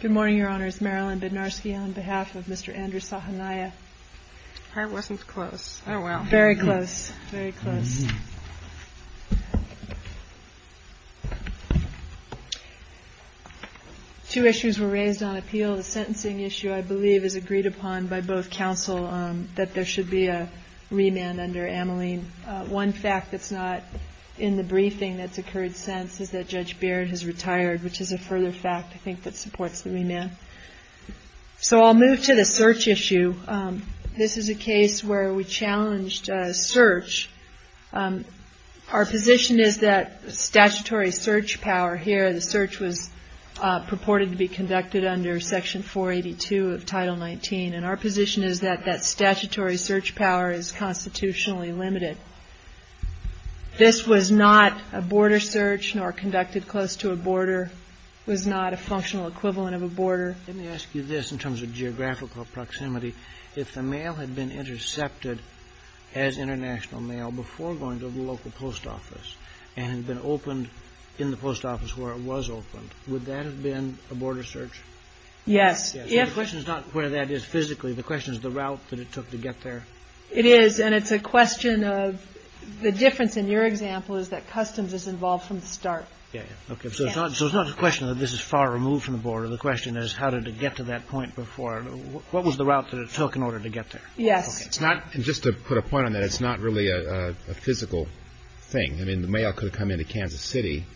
Good morning, Your Honors. Marilyn Bednarski on behalf of Mr. Andrew Sahanaja. Her wasn't close. Oh, well. Very close. Very close. Two issues were raised on appeal. The sentencing issue, I believe, is agreed upon by both counsel that there should be a remand under Ameline. One fact that's not in the briefing that's retired, which is a further fact, I think, that supports the remand. So I'll move to the search issue. This is a case where we challenged search. Our position is that statutory search power here, the search was purported to be conducted under Section 482 of Title 19, and our position is that that statutory search power is constitutionally limited. This was not a border search nor conducted close to a border, was not a functional equivalent of a border. Let me ask you this in terms of geographical proximity. If the mail had been intercepted as international mail before going to the local post office and had been opened in the post office where it was opened, would that have been a border search? Yes. The question is not where that is physically. The question is the route that it took to get there. It is, and it's a question of the difference in your example is that customs is involved from the start. Okay. So it's not a question that this is far removed from the border. The question is how did it get to that point before? What was the route that it took in order to get there? Yes. Just to put a point on that, it's not really a physical thing. I mean, the mail could have come into Kansas City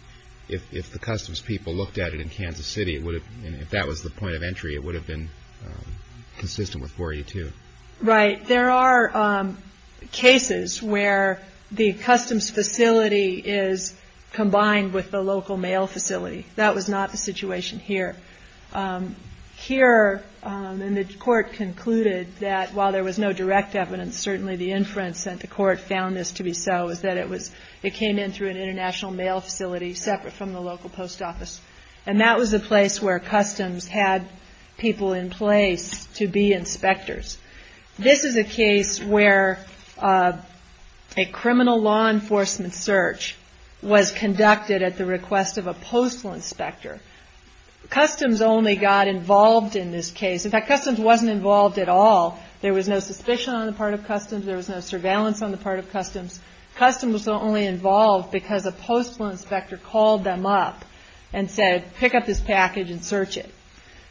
if the customs people looked at it in Kansas City. If that was the point of entry, it would have been consistent with 482. Right. There are cases where the customs facility is combined with the local mail facility. That was not the situation here. Here, and the court concluded that while there was no direct evidence, certainly the inference that the court found this to be so is that it came in through an international mail facility separate from the local post office. And that was the place where customs had people in place to be inspectors. This is a case where a criminal law enforcement search was conducted at the request of a postal inspector. Customs only got involved in this case. In fact, customs wasn't involved at all. There was no suspicion on the part of customs. There was no surveillance on the part of customs. Customs was only involved because a postal inspector called them up and said, pick up this package and search it.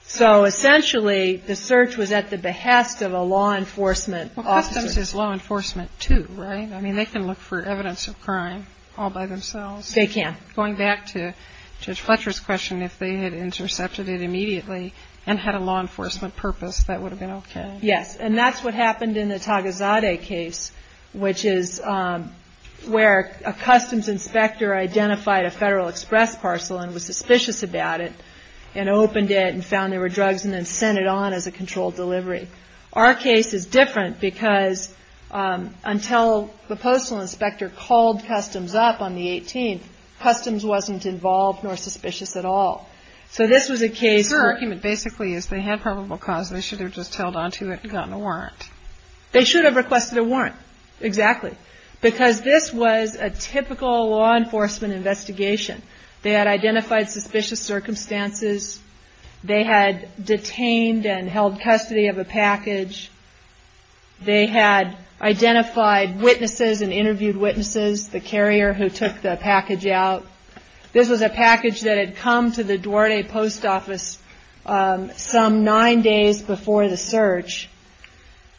So essentially, the search was at the behest of a law enforcement officer. Well, customs is law enforcement too, right? I mean, they can look for evidence of crime all by themselves. They can. Going back to Judge Fletcher's question, if they had intercepted it immediately and had a law enforcement purpose, that would have been okay. Yes. And that's what happened in the Tagazade case, which is where a customs inspector identified a Federal Express parcel and was suspicious about it and opened it and found there were drugs and then sent it on as a controlled delivery. Our case is different because until the postal inspector called customs up on the 18th, customs wasn't involved nor suspicious at all. So this was a case where- The argument basically is they had probable cause and they should have just held onto it and gotten a warrant. They should have requested a warrant. Exactly. Because this was a typical law enforcement investigation. They had identified suspicious circumstances. They had detained and held custody of a package. They had identified witnesses and interviewed witnesses, the carrier who took the package out. This was a package that had come to the Duarte Post Office some nine days before the search.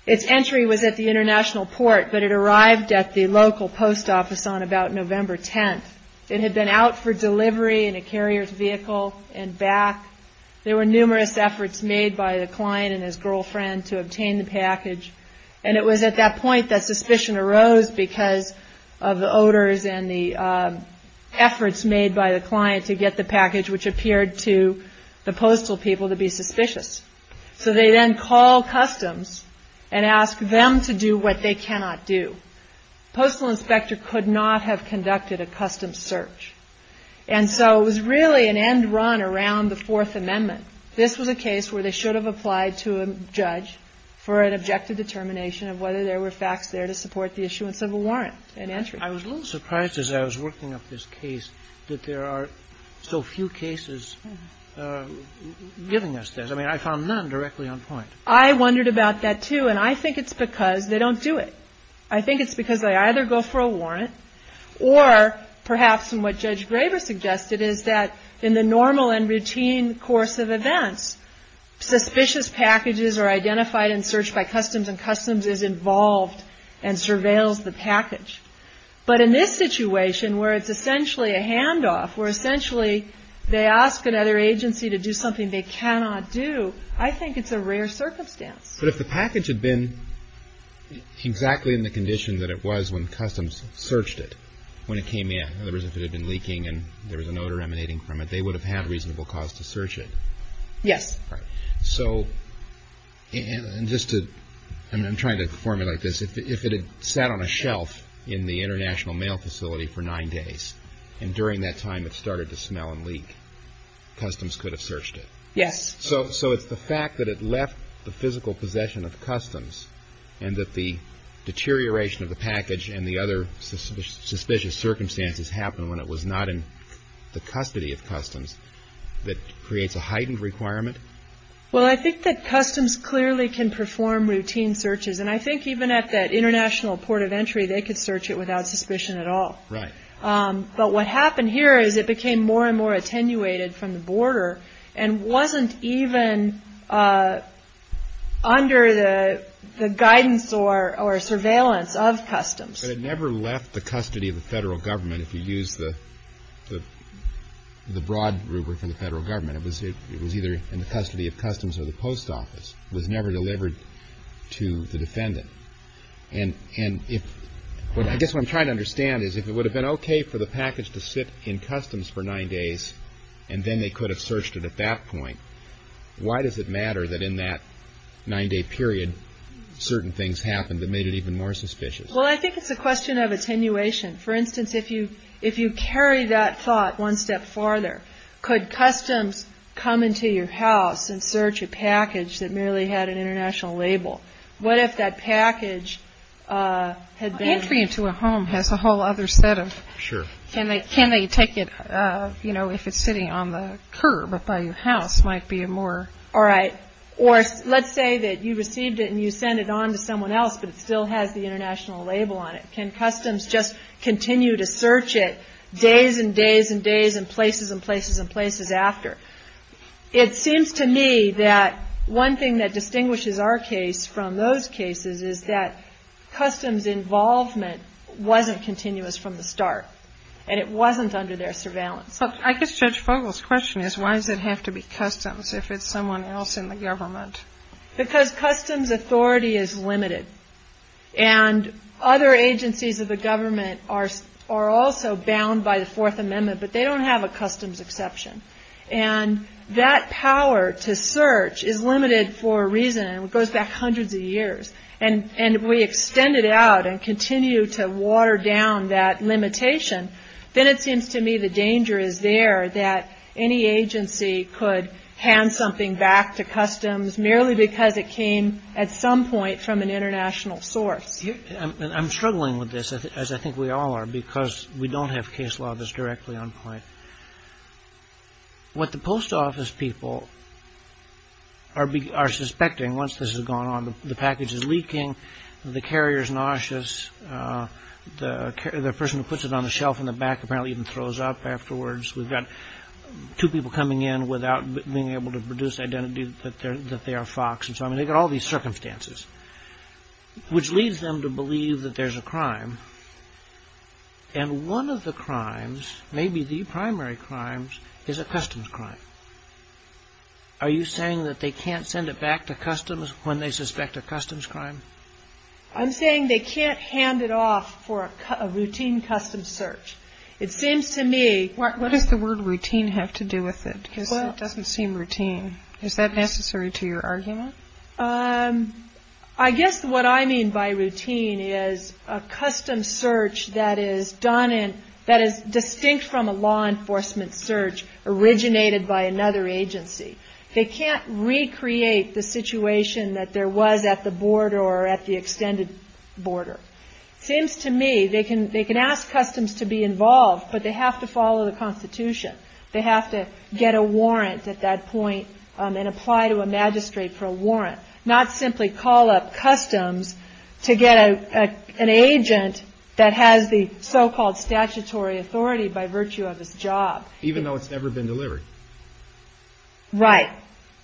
Its entry was at the International Port, but it arrived at the local post office on about November 10th. It had been out for delivery in a carrier's vehicle and back. There were numerous efforts made by the client and his girlfriend to obtain the package. And it was at that point that suspicion arose because of the odors and the efforts made by the client to get the package, which appeared to the postal people to be suspicious. So they then call customs and ask them to do what they cannot do. The postal inspector could not have conducted a custom search. And so it was really an end run around the Fourth Amendment. This was a case where they should have applied to a judge for an objective determination of whether there were facts there to support the issuance of a warrant and entry. I was a little surprised as I was working up this case that there are so few cases giving us this. I mean, I found none directly on point. I wondered about that, too. And I think it's because they don't do it. I think it's because they either go for a warrant or perhaps what Judge Graber suggested is that in the normal and routine course of events, suspicious packages are identified in search by customs and customs is involved and surveils the package. But in this situation where it's essentially a I think it's a rare circumstance. But if the package had been exactly in the condition that it was when customs searched it, when it came in, in other words, if it had been leaking and there was an odor emanating from it, they would have had a reasonable cause to search it. Yes. So just to, I'm trying to formulate this, if it had sat on a shelf in the International Mail Facility for nine days and during that time it started to smell and leak, customs could have searched it. Yes. So it's the fact that it left the physical possession of customs and that the deterioration of the package and the other suspicious circumstances happened when it was not in the custody of customs that creates a heightened requirement? Well, I think that customs clearly can perform routine searches. And I think even at that international port of entry, they could search it without suspicion at all. Right. But what happened here is it became more and more attenuated from the border and wasn't even under the guidance or surveillance of customs. But it never left the custody of the federal government, if you use the broad rubric of the federal government. It was either in the custody of customs or the post office. It was never delivered to the defendant. And I guess what I'm trying to understand is if it would have been OK for the package to sit in customs for nine days and then they could have searched it at that point, why does it matter that in that nine day period certain things happened that made it even more suspicious? Well, I think it's a question of attenuation. For instance, if you carry that thought one step farther, could customs come into your house and search a package that merely had an international label? What if that package had been. Entry into a home has a whole other set of. Sure. Can they can they take it, you know, if it's sitting on the curb by your house might be a more. All right. Or let's say that you received it and you send it on to someone else, but it still has the international label on it. Can customs just continue to search it days and days and days and places and places and places after? It seems to me that one thing that distinguishes our case. From those cases is that customs involvement wasn't continuous from the start and it wasn't under their surveillance. But I guess Judge Fogel's question is, why does it have to be customs if it's someone else in the government? Because customs authority is limited and other agencies of the government are are also bound by the Fourth Amendment, but they don't have a customs exception. And that power to search is limited for a reason and it goes back hundreds of years. And and we extend it out and continue to water down that limitation. Then it seems to me the danger is there that any agency could hand something back to customs merely because it came at some point from an international source. I'm struggling with this, as I think we all are, because we don't have case law that's fair. What the post office people are are suspecting once this has gone on, the package is leaking, the carrier is nauseous, the person who puts it on the shelf in the back apparently even throws up afterwards. We've got two people coming in without being able to produce identity that they are Fox. And so I mean, they got all these circumstances. Which leads them to believe that there's a crime. And one of the crimes, maybe the primary crimes, is a customs crime. Are you saying that they can't send it back to customs when they suspect a customs crime? I'm saying they can't hand it off for a routine custom search. It seems to me. What does the word routine have to do with it? Well, it doesn't seem routine. Is that necessary to your argument? I guess what I mean by routine is a custom search that is done and that is distinct from a law enforcement search originated by another agency. They can't recreate the situation that there was at the border or at the extended border. Seems to me they can they can ask customs to be involved, but they have to follow the Constitution. They have to get a warrant at that point and apply to a magistrate for a warrant, not simply call up customs to get an agent that has the so-called statutory authority by virtue of his job. Even though it's never been delivered. Right,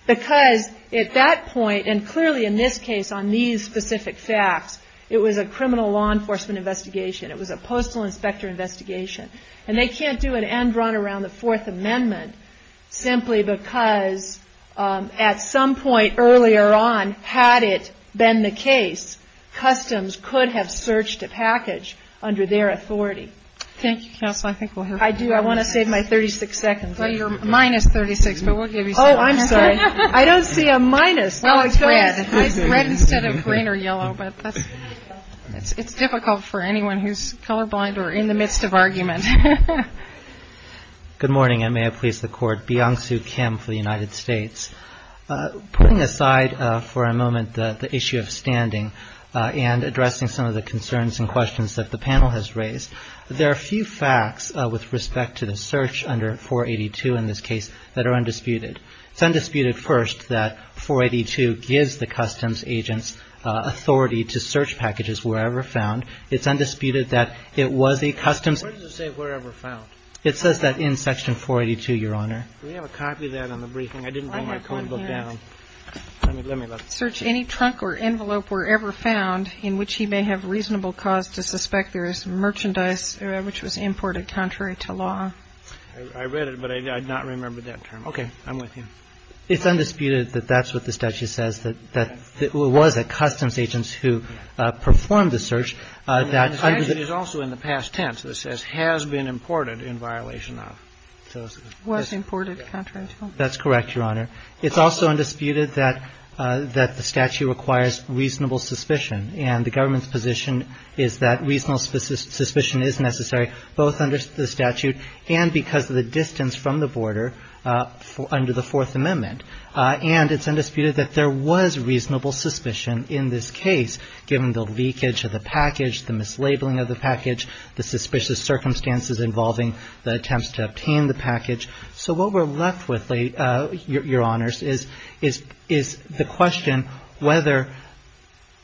because at that point and clearly in this case on these specific facts, it was a criminal law enforcement investigation. It was a postal inspector investigation and they can't do an end run around the Fourth Amendment simply because at some point earlier on, had it been the case, customs could have searched a package under their authority. Thank you, counsel. I think I do. I want to save my 36 seconds. Well, you're minus 36, but we'll give you. Oh, I'm sorry. I don't see a minus. Well, it's red instead of green or yellow. But it's difficult for anyone who's colorblind or in the midst of argument. Good morning, and may I please the court. Beyonce Kim for the United States. Putting aside for a moment the issue of standing and addressing some of the concerns and questions that the panel has raised. There are a few facts with respect to the search under 482 in this case that are disputed. It's undisputed first that 482 gives the customs agents authority to search packages wherever found. It's undisputed that it was a customs. What does it say wherever found? It says that in Section 482, Your Honor. We have a copy of that on the briefing. I didn't bring my code book down. Search any trunk or envelope wherever found in which he may have reasonable cause to suspect there is merchandise which was imported contrary to law. I read it, but I did not remember that term. Okay. I'm with you. It's undisputed that that's what the statute says, that it was a customs agent who performed the search. That is also in the past tense that says has been imported in violation of. Was imported contrary to law. That's correct, Your Honor. It's also undisputed that that the statute requires reasonable suspicion and the government's position is that reasonable suspicion is necessary both under the statute and because of the distance from the border under the Fourth Amendment. And it's undisputed that there was reasonable suspicion in this case given the leakage of the package, the mislabeling of the package, the suspicious circumstances involving the attempts to obtain the package. So what we're left with, Your Honors, is the question whether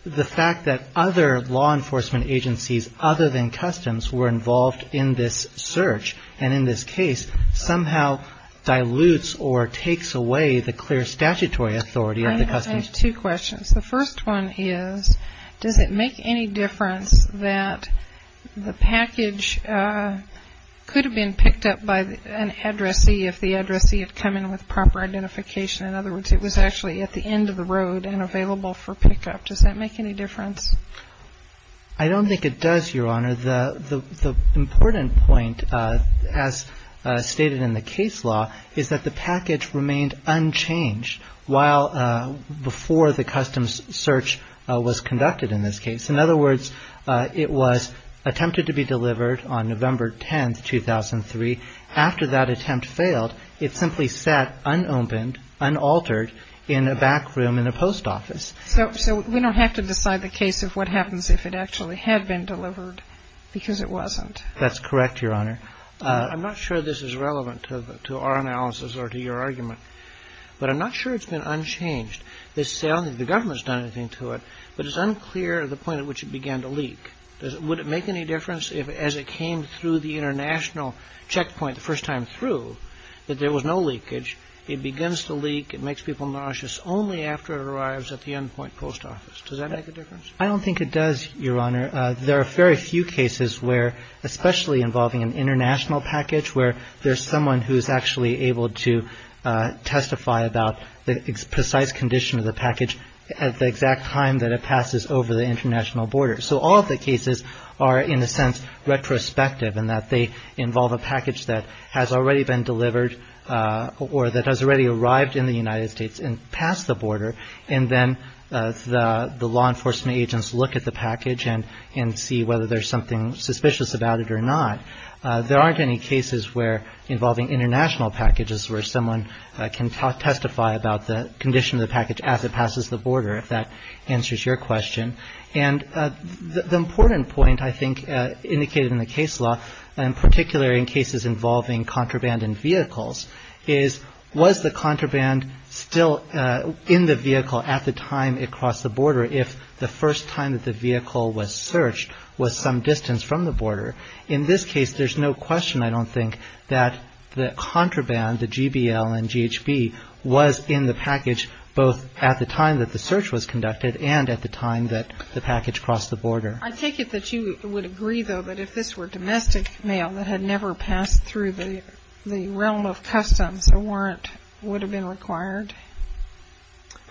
the fact that other law enforcement agencies other than customs were involved in this search and in this case somehow dilutes or takes away the clear statutory authority of the customs. I have two questions. The first one is, does it make any difference that the package could have been picked up by an addressee if the addressee had come in with proper identification? In other words, it was actually at the end of the road and available for pickup. Does that make any difference? I don't think it does, Your Honor. The important point, as stated in the case law, is that the package remained unchanged while before the customs search was conducted in this case. In other words, it was attempted to be delivered on November 10, 2003. After that attempt failed, it simply sat unopened, unaltered in a back room in a post office. So we don't have to decide the case of what happens if it actually had been delivered because it wasn't. That's correct, Your Honor. I'm not sure this is relevant to our analysis or to your argument, but I'm not sure it's been unchanged. They say only the government's done anything to it, but it's unclear the point at which it began to leak. Would it make any difference if, as it came through the international checkpoint the first time through, that there was no leakage? It begins to leak. It makes people nauseous only after it arrives at the endpoint post office. Does that make a difference? I don't think it does, Your Honor. There are very few cases where, especially involving an international package, where there's someone who's actually able to testify about the precise condition of the package at the exact time that it passes over the international border. So all of the cases are, in a sense, retrospective in that they involve a package that has already been delivered or that has already arrived in the United States and passed the border. And then the law enforcement agents look at the package and see whether there's something suspicious about it or not. There aren't any cases where, involving international packages, where someone can testify about the condition of the package as it passes the border, if that answers your question. And the important point, I think, indicated in the case law, and particularly in cases involving contraband in vehicles, is was the contraband still in the vehicle at the time it crossed the border if the first time that the vehicle was searched was some distance from the border? In this case, there's no question, I don't think, that the contraband, the GBL and GHB, was in the package both at the time that the search was conducted and at the time that the package crossed the border. I take it that you would agree, though, that if this were domestic mail that had never passed through the realm of customs, a warrant would have been required?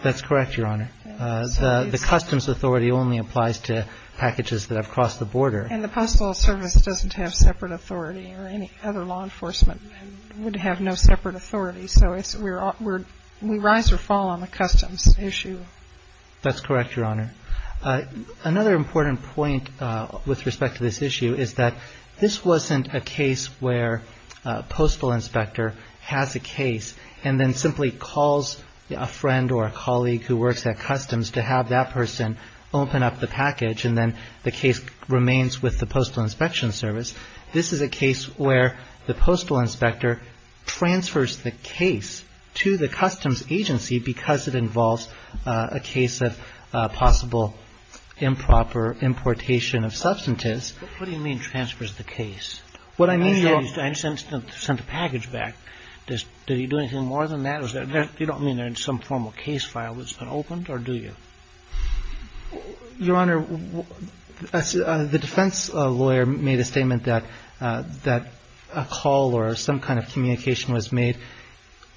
That's correct, Your Honor. The customs authority only applies to packages that have crossed the border. And the Postal Service doesn't have separate authority or any other law enforcement and would have no separate authority. So we rise or fall on the customs issue. That's correct, Your Honor. Another important point with respect to this issue is that this wasn't a case where a postal inspector has a case and then simply calls a friend or a colleague who works at customs to have that person open up the package and then the case remains with the Postal Inspection Service. This is a case where the postal inspector transfers the case to the customs agency because it involves a case of possible improper importation of substances. What do you mean transfers the case? What I mean is, I understand it's not sent a package back. Does he do anything more than that? Or you don't mean there's some form of case file that's been opened or do you? Your Honor, the defense lawyer made a statement that a call or some kind of communication was made,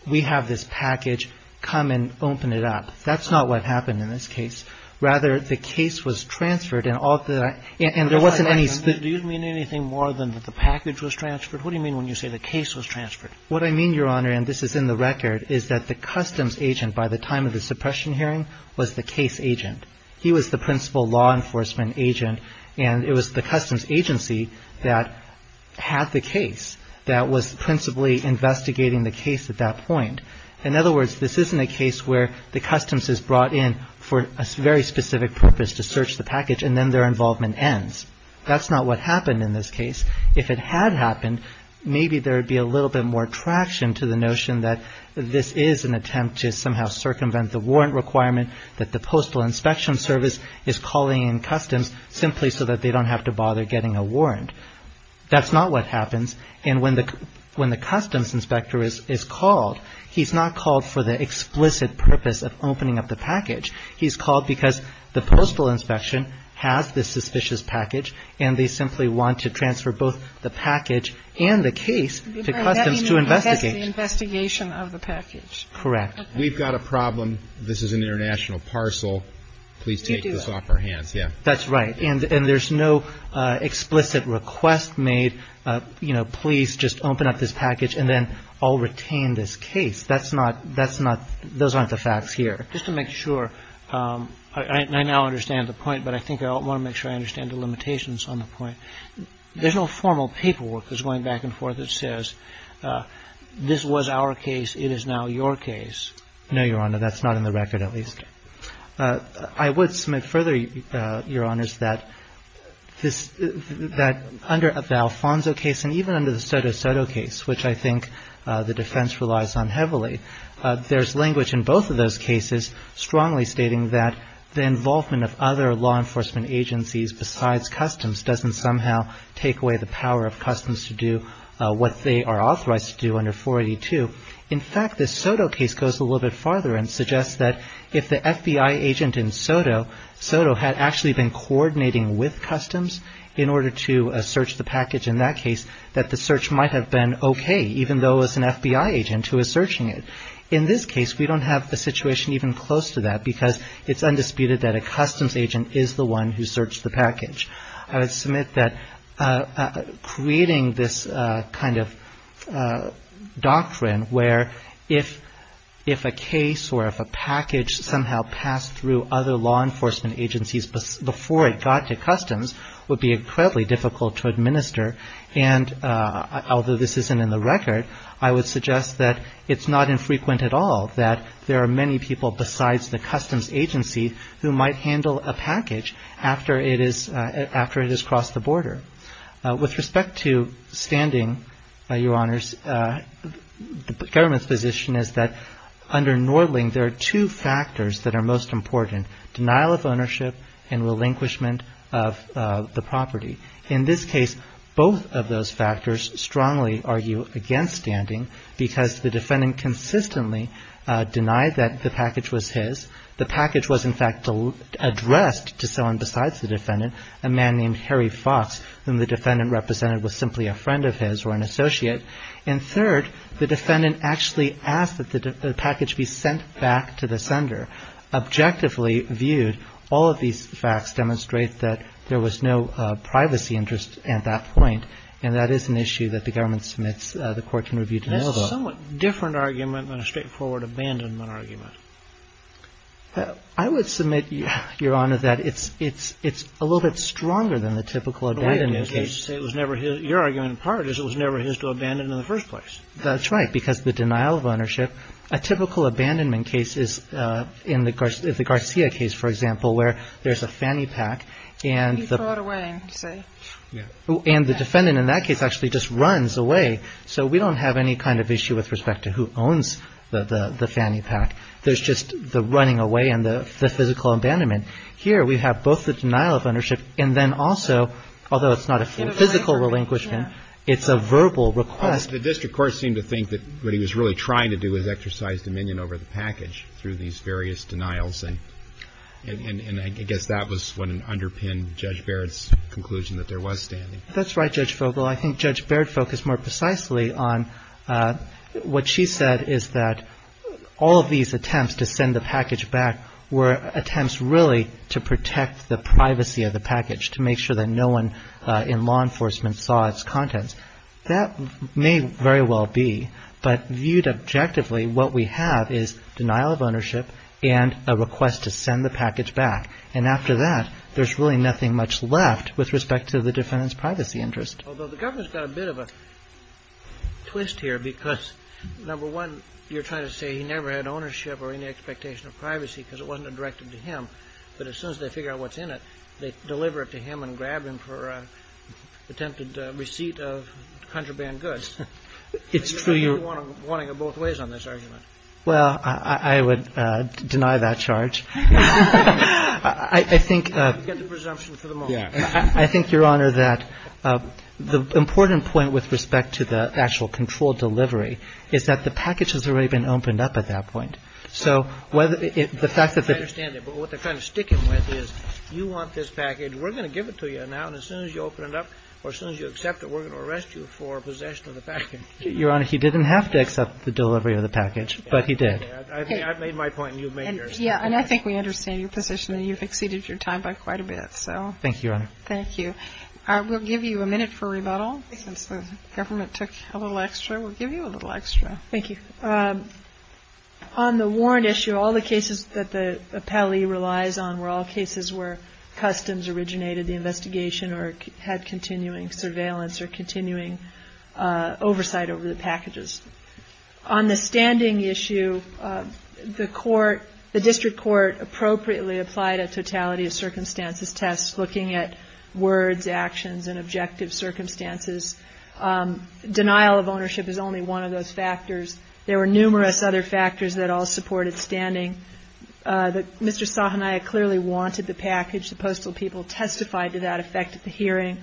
we have this package, come and open it up. That's not what happened in this case. Rather, the case was transferred and there wasn't any split. Do you mean anything more than that the package was transferred? What do you mean when you say the case was transferred? What I mean, Your Honor, and this is in the record, is that the customs agent by the time of the suppression hearing was the case agent. He was the principal law enforcement agent and it was the customs agency that had the case at that point. In other words, this isn't a case where the customs is brought in for a very specific purpose to search the package and then their involvement ends. That's not what happened in this case. If it had happened, maybe there would be a little bit more traction to the notion that this is an attempt to somehow circumvent the warrant requirement that the Postal Inspection Service is calling in customs simply so that they don't have to bother getting a warrant. That's not what happens. And when the when the customs inspector is called, he's not called for the explicit purpose of opening up the package. He's called because the postal inspection has this suspicious package and they simply want to transfer both the package and the case to customs to investigate. That's the investigation of the package. Correct. We've got a problem. This is an international parcel. Please take this off our hands. Yeah, that's right. And there's no explicit request made, you know, please just open up this package and then I'll retain this case. That's not that's not those aren't the facts here. Just to make sure I now understand the point, but I think I want to make sure I understand the limitations on the point. There's no formal paperwork that's going back and forth that says this was our case. It is now your case. No, Your Honor. That's not in the record, at least. I would submit further, Your Honors, that this that under the Alfonso case and even under the Soto Soto case, which I think the defense relies on heavily, there's language in both of those cases strongly stating that the involvement of other law enforcement agencies besides customs doesn't somehow take away the power of customs to do what they are authorized to do under 482. In fact, the Soto case goes a little bit farther and suggests that if the FBI agent in Soto Soto had actually been coordinating with customs in order to search the package in that case, that the search might have been OK, even though it's an FBI agent who is searching it. In this case, we don't have a situation even close to that because it's undisputed that a customs agent is the one who searched the package. I would submit that creating this kind of doctrine where if if a case or if a package somehow passed through other law enforcement agencies before it got to customs would be incredibly difficult to administer. And although this isn't in the record, I would suggest that it's not infrequent at all that there are many people besides the customs agency who might handle a package after it is after it has crossed the border. With respect to standing by your honors, the government's position is that under Nordling, there are two factors that are most important, denial of ownership and relinquishment of the property. In this case, both of those factors strongly argue against standing because the defendant consistently denied that the package was his. The package was, in fact, addressed to someone besides the defendant, a man named Harry Fox, whom the defendant represented was simply a friend of his or an associate. And third, the defendant actually asked that the package be sent back to the sender. Objectively viewed, all of these facts demonstrate that there was no privacy interest at that point. And that is an issue that the government submits the court can review the denial of a somewhat different argument than a straightforward abandonment argument. I would submit, Your Honor, that it's it's it's a little bit stronger than the typical abandonment case was never. Your argument in part is it was never his to abandon in the first place. That's right. Because the denial of ownership, a typical abandonment case is in the course of the Garcia case, for example, where there's a fanny pack and the right away. And the defendant in that case actually just runs away. So we don't have any kind of issue with respect to who owns the fanny pack. There's just the running away and the physical abandonment. Here we have both the denial of ownership and then also, although it's not a physical relinquishment, it's a verbal request. The district court seemed to think that what he was really trying to do is exercise dominion over the package through these various denials. And I guess that was when an underpinned Judge Baird's conclusion that there was standing. That's right, Judge Vogel. I think Judge Baird focused more precisely on what she said, is that all of these attempts to send the package back were attempts really to protect the privacy of the package, to make sure that no one in law enforcement saw its contents. That may very well be, but viewed objectively, what we have is denial of ownership and a request to send the package back. And after that, there's really nothing much left with respect to the defendant's privacy interest. Although the government's got a bit of a twist here because, number one, you're trying to say he never had ownership or any expectation of privacy because it wasn't a directive to him. But as soon as they figure out what's in it, they deliver it to him and grab him for an attempted receipt of contraband goods. It's true. You're wanting it both ways on this argument. Well, I would deny that charge. I think. Get the presumption for the moment. I think, Your Honor, that the important point with respect to the actual controlled delivery is that the package has already been opened up at that point. So whether the fact that. I understand that. But what they're kind of sticking with is you want this package. We're going to give it to you now. And as soon as you open it up or as soon as you accept it, we're going to arrest you for possession of the package. Your Honor, he didn't have to accept the delivery of the package, but he did. I've made my point and you've made yours. Yeah. And I think we understand your position that you've exceeded your time by quite a bit. So. Thank you, Your Honor. Thank you. I will give you a minute for rebuttal since the government took a little extra. We'll give you a little extra. Thank you. On the warrant issue, all the cases that the appellee relies on were all cases where customs originated the investigation or had continuing surveillance or continuing oversight over the packages. On the standing issue, the court, the district court appropriately applied a circumstances test, looking at words, actions, and objective circumstances. Denial of ownership is only one of those factors. There were numerous other factors that all supported standing. Mr. Sahania clearly wanted the package. The postal people testified to that effect at the hearing.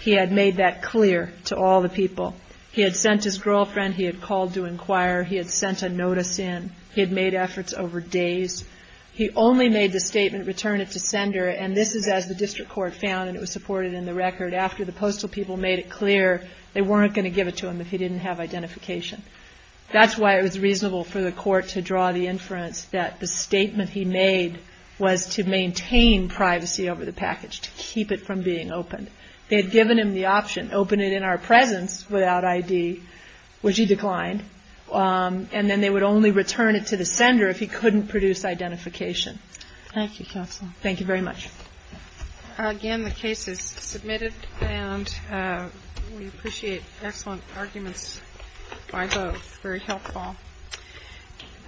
He had made that clear to all the people. He had sent his girlfriend. He had called to inquire. He had sent a notice in. He had made efforts over days. He only made the statement, return it to sender. And this is as the district court found, and it was supported in the record, after the postal people made it clear they weren't going to give it to him if he didn't have identification. That's why it was reasonable for the court to draw the inference that the statement he made was to maintain privacy over the package, to keep it from being opened. They had given him the option, open it in our presence without ID, which he declined. And then they would only return it to the sender if he couldn't produce identification. Thank you, counsel. Thank you very much. Again, the case is submitted and we appreciate excellent arguments by both. Very helpful.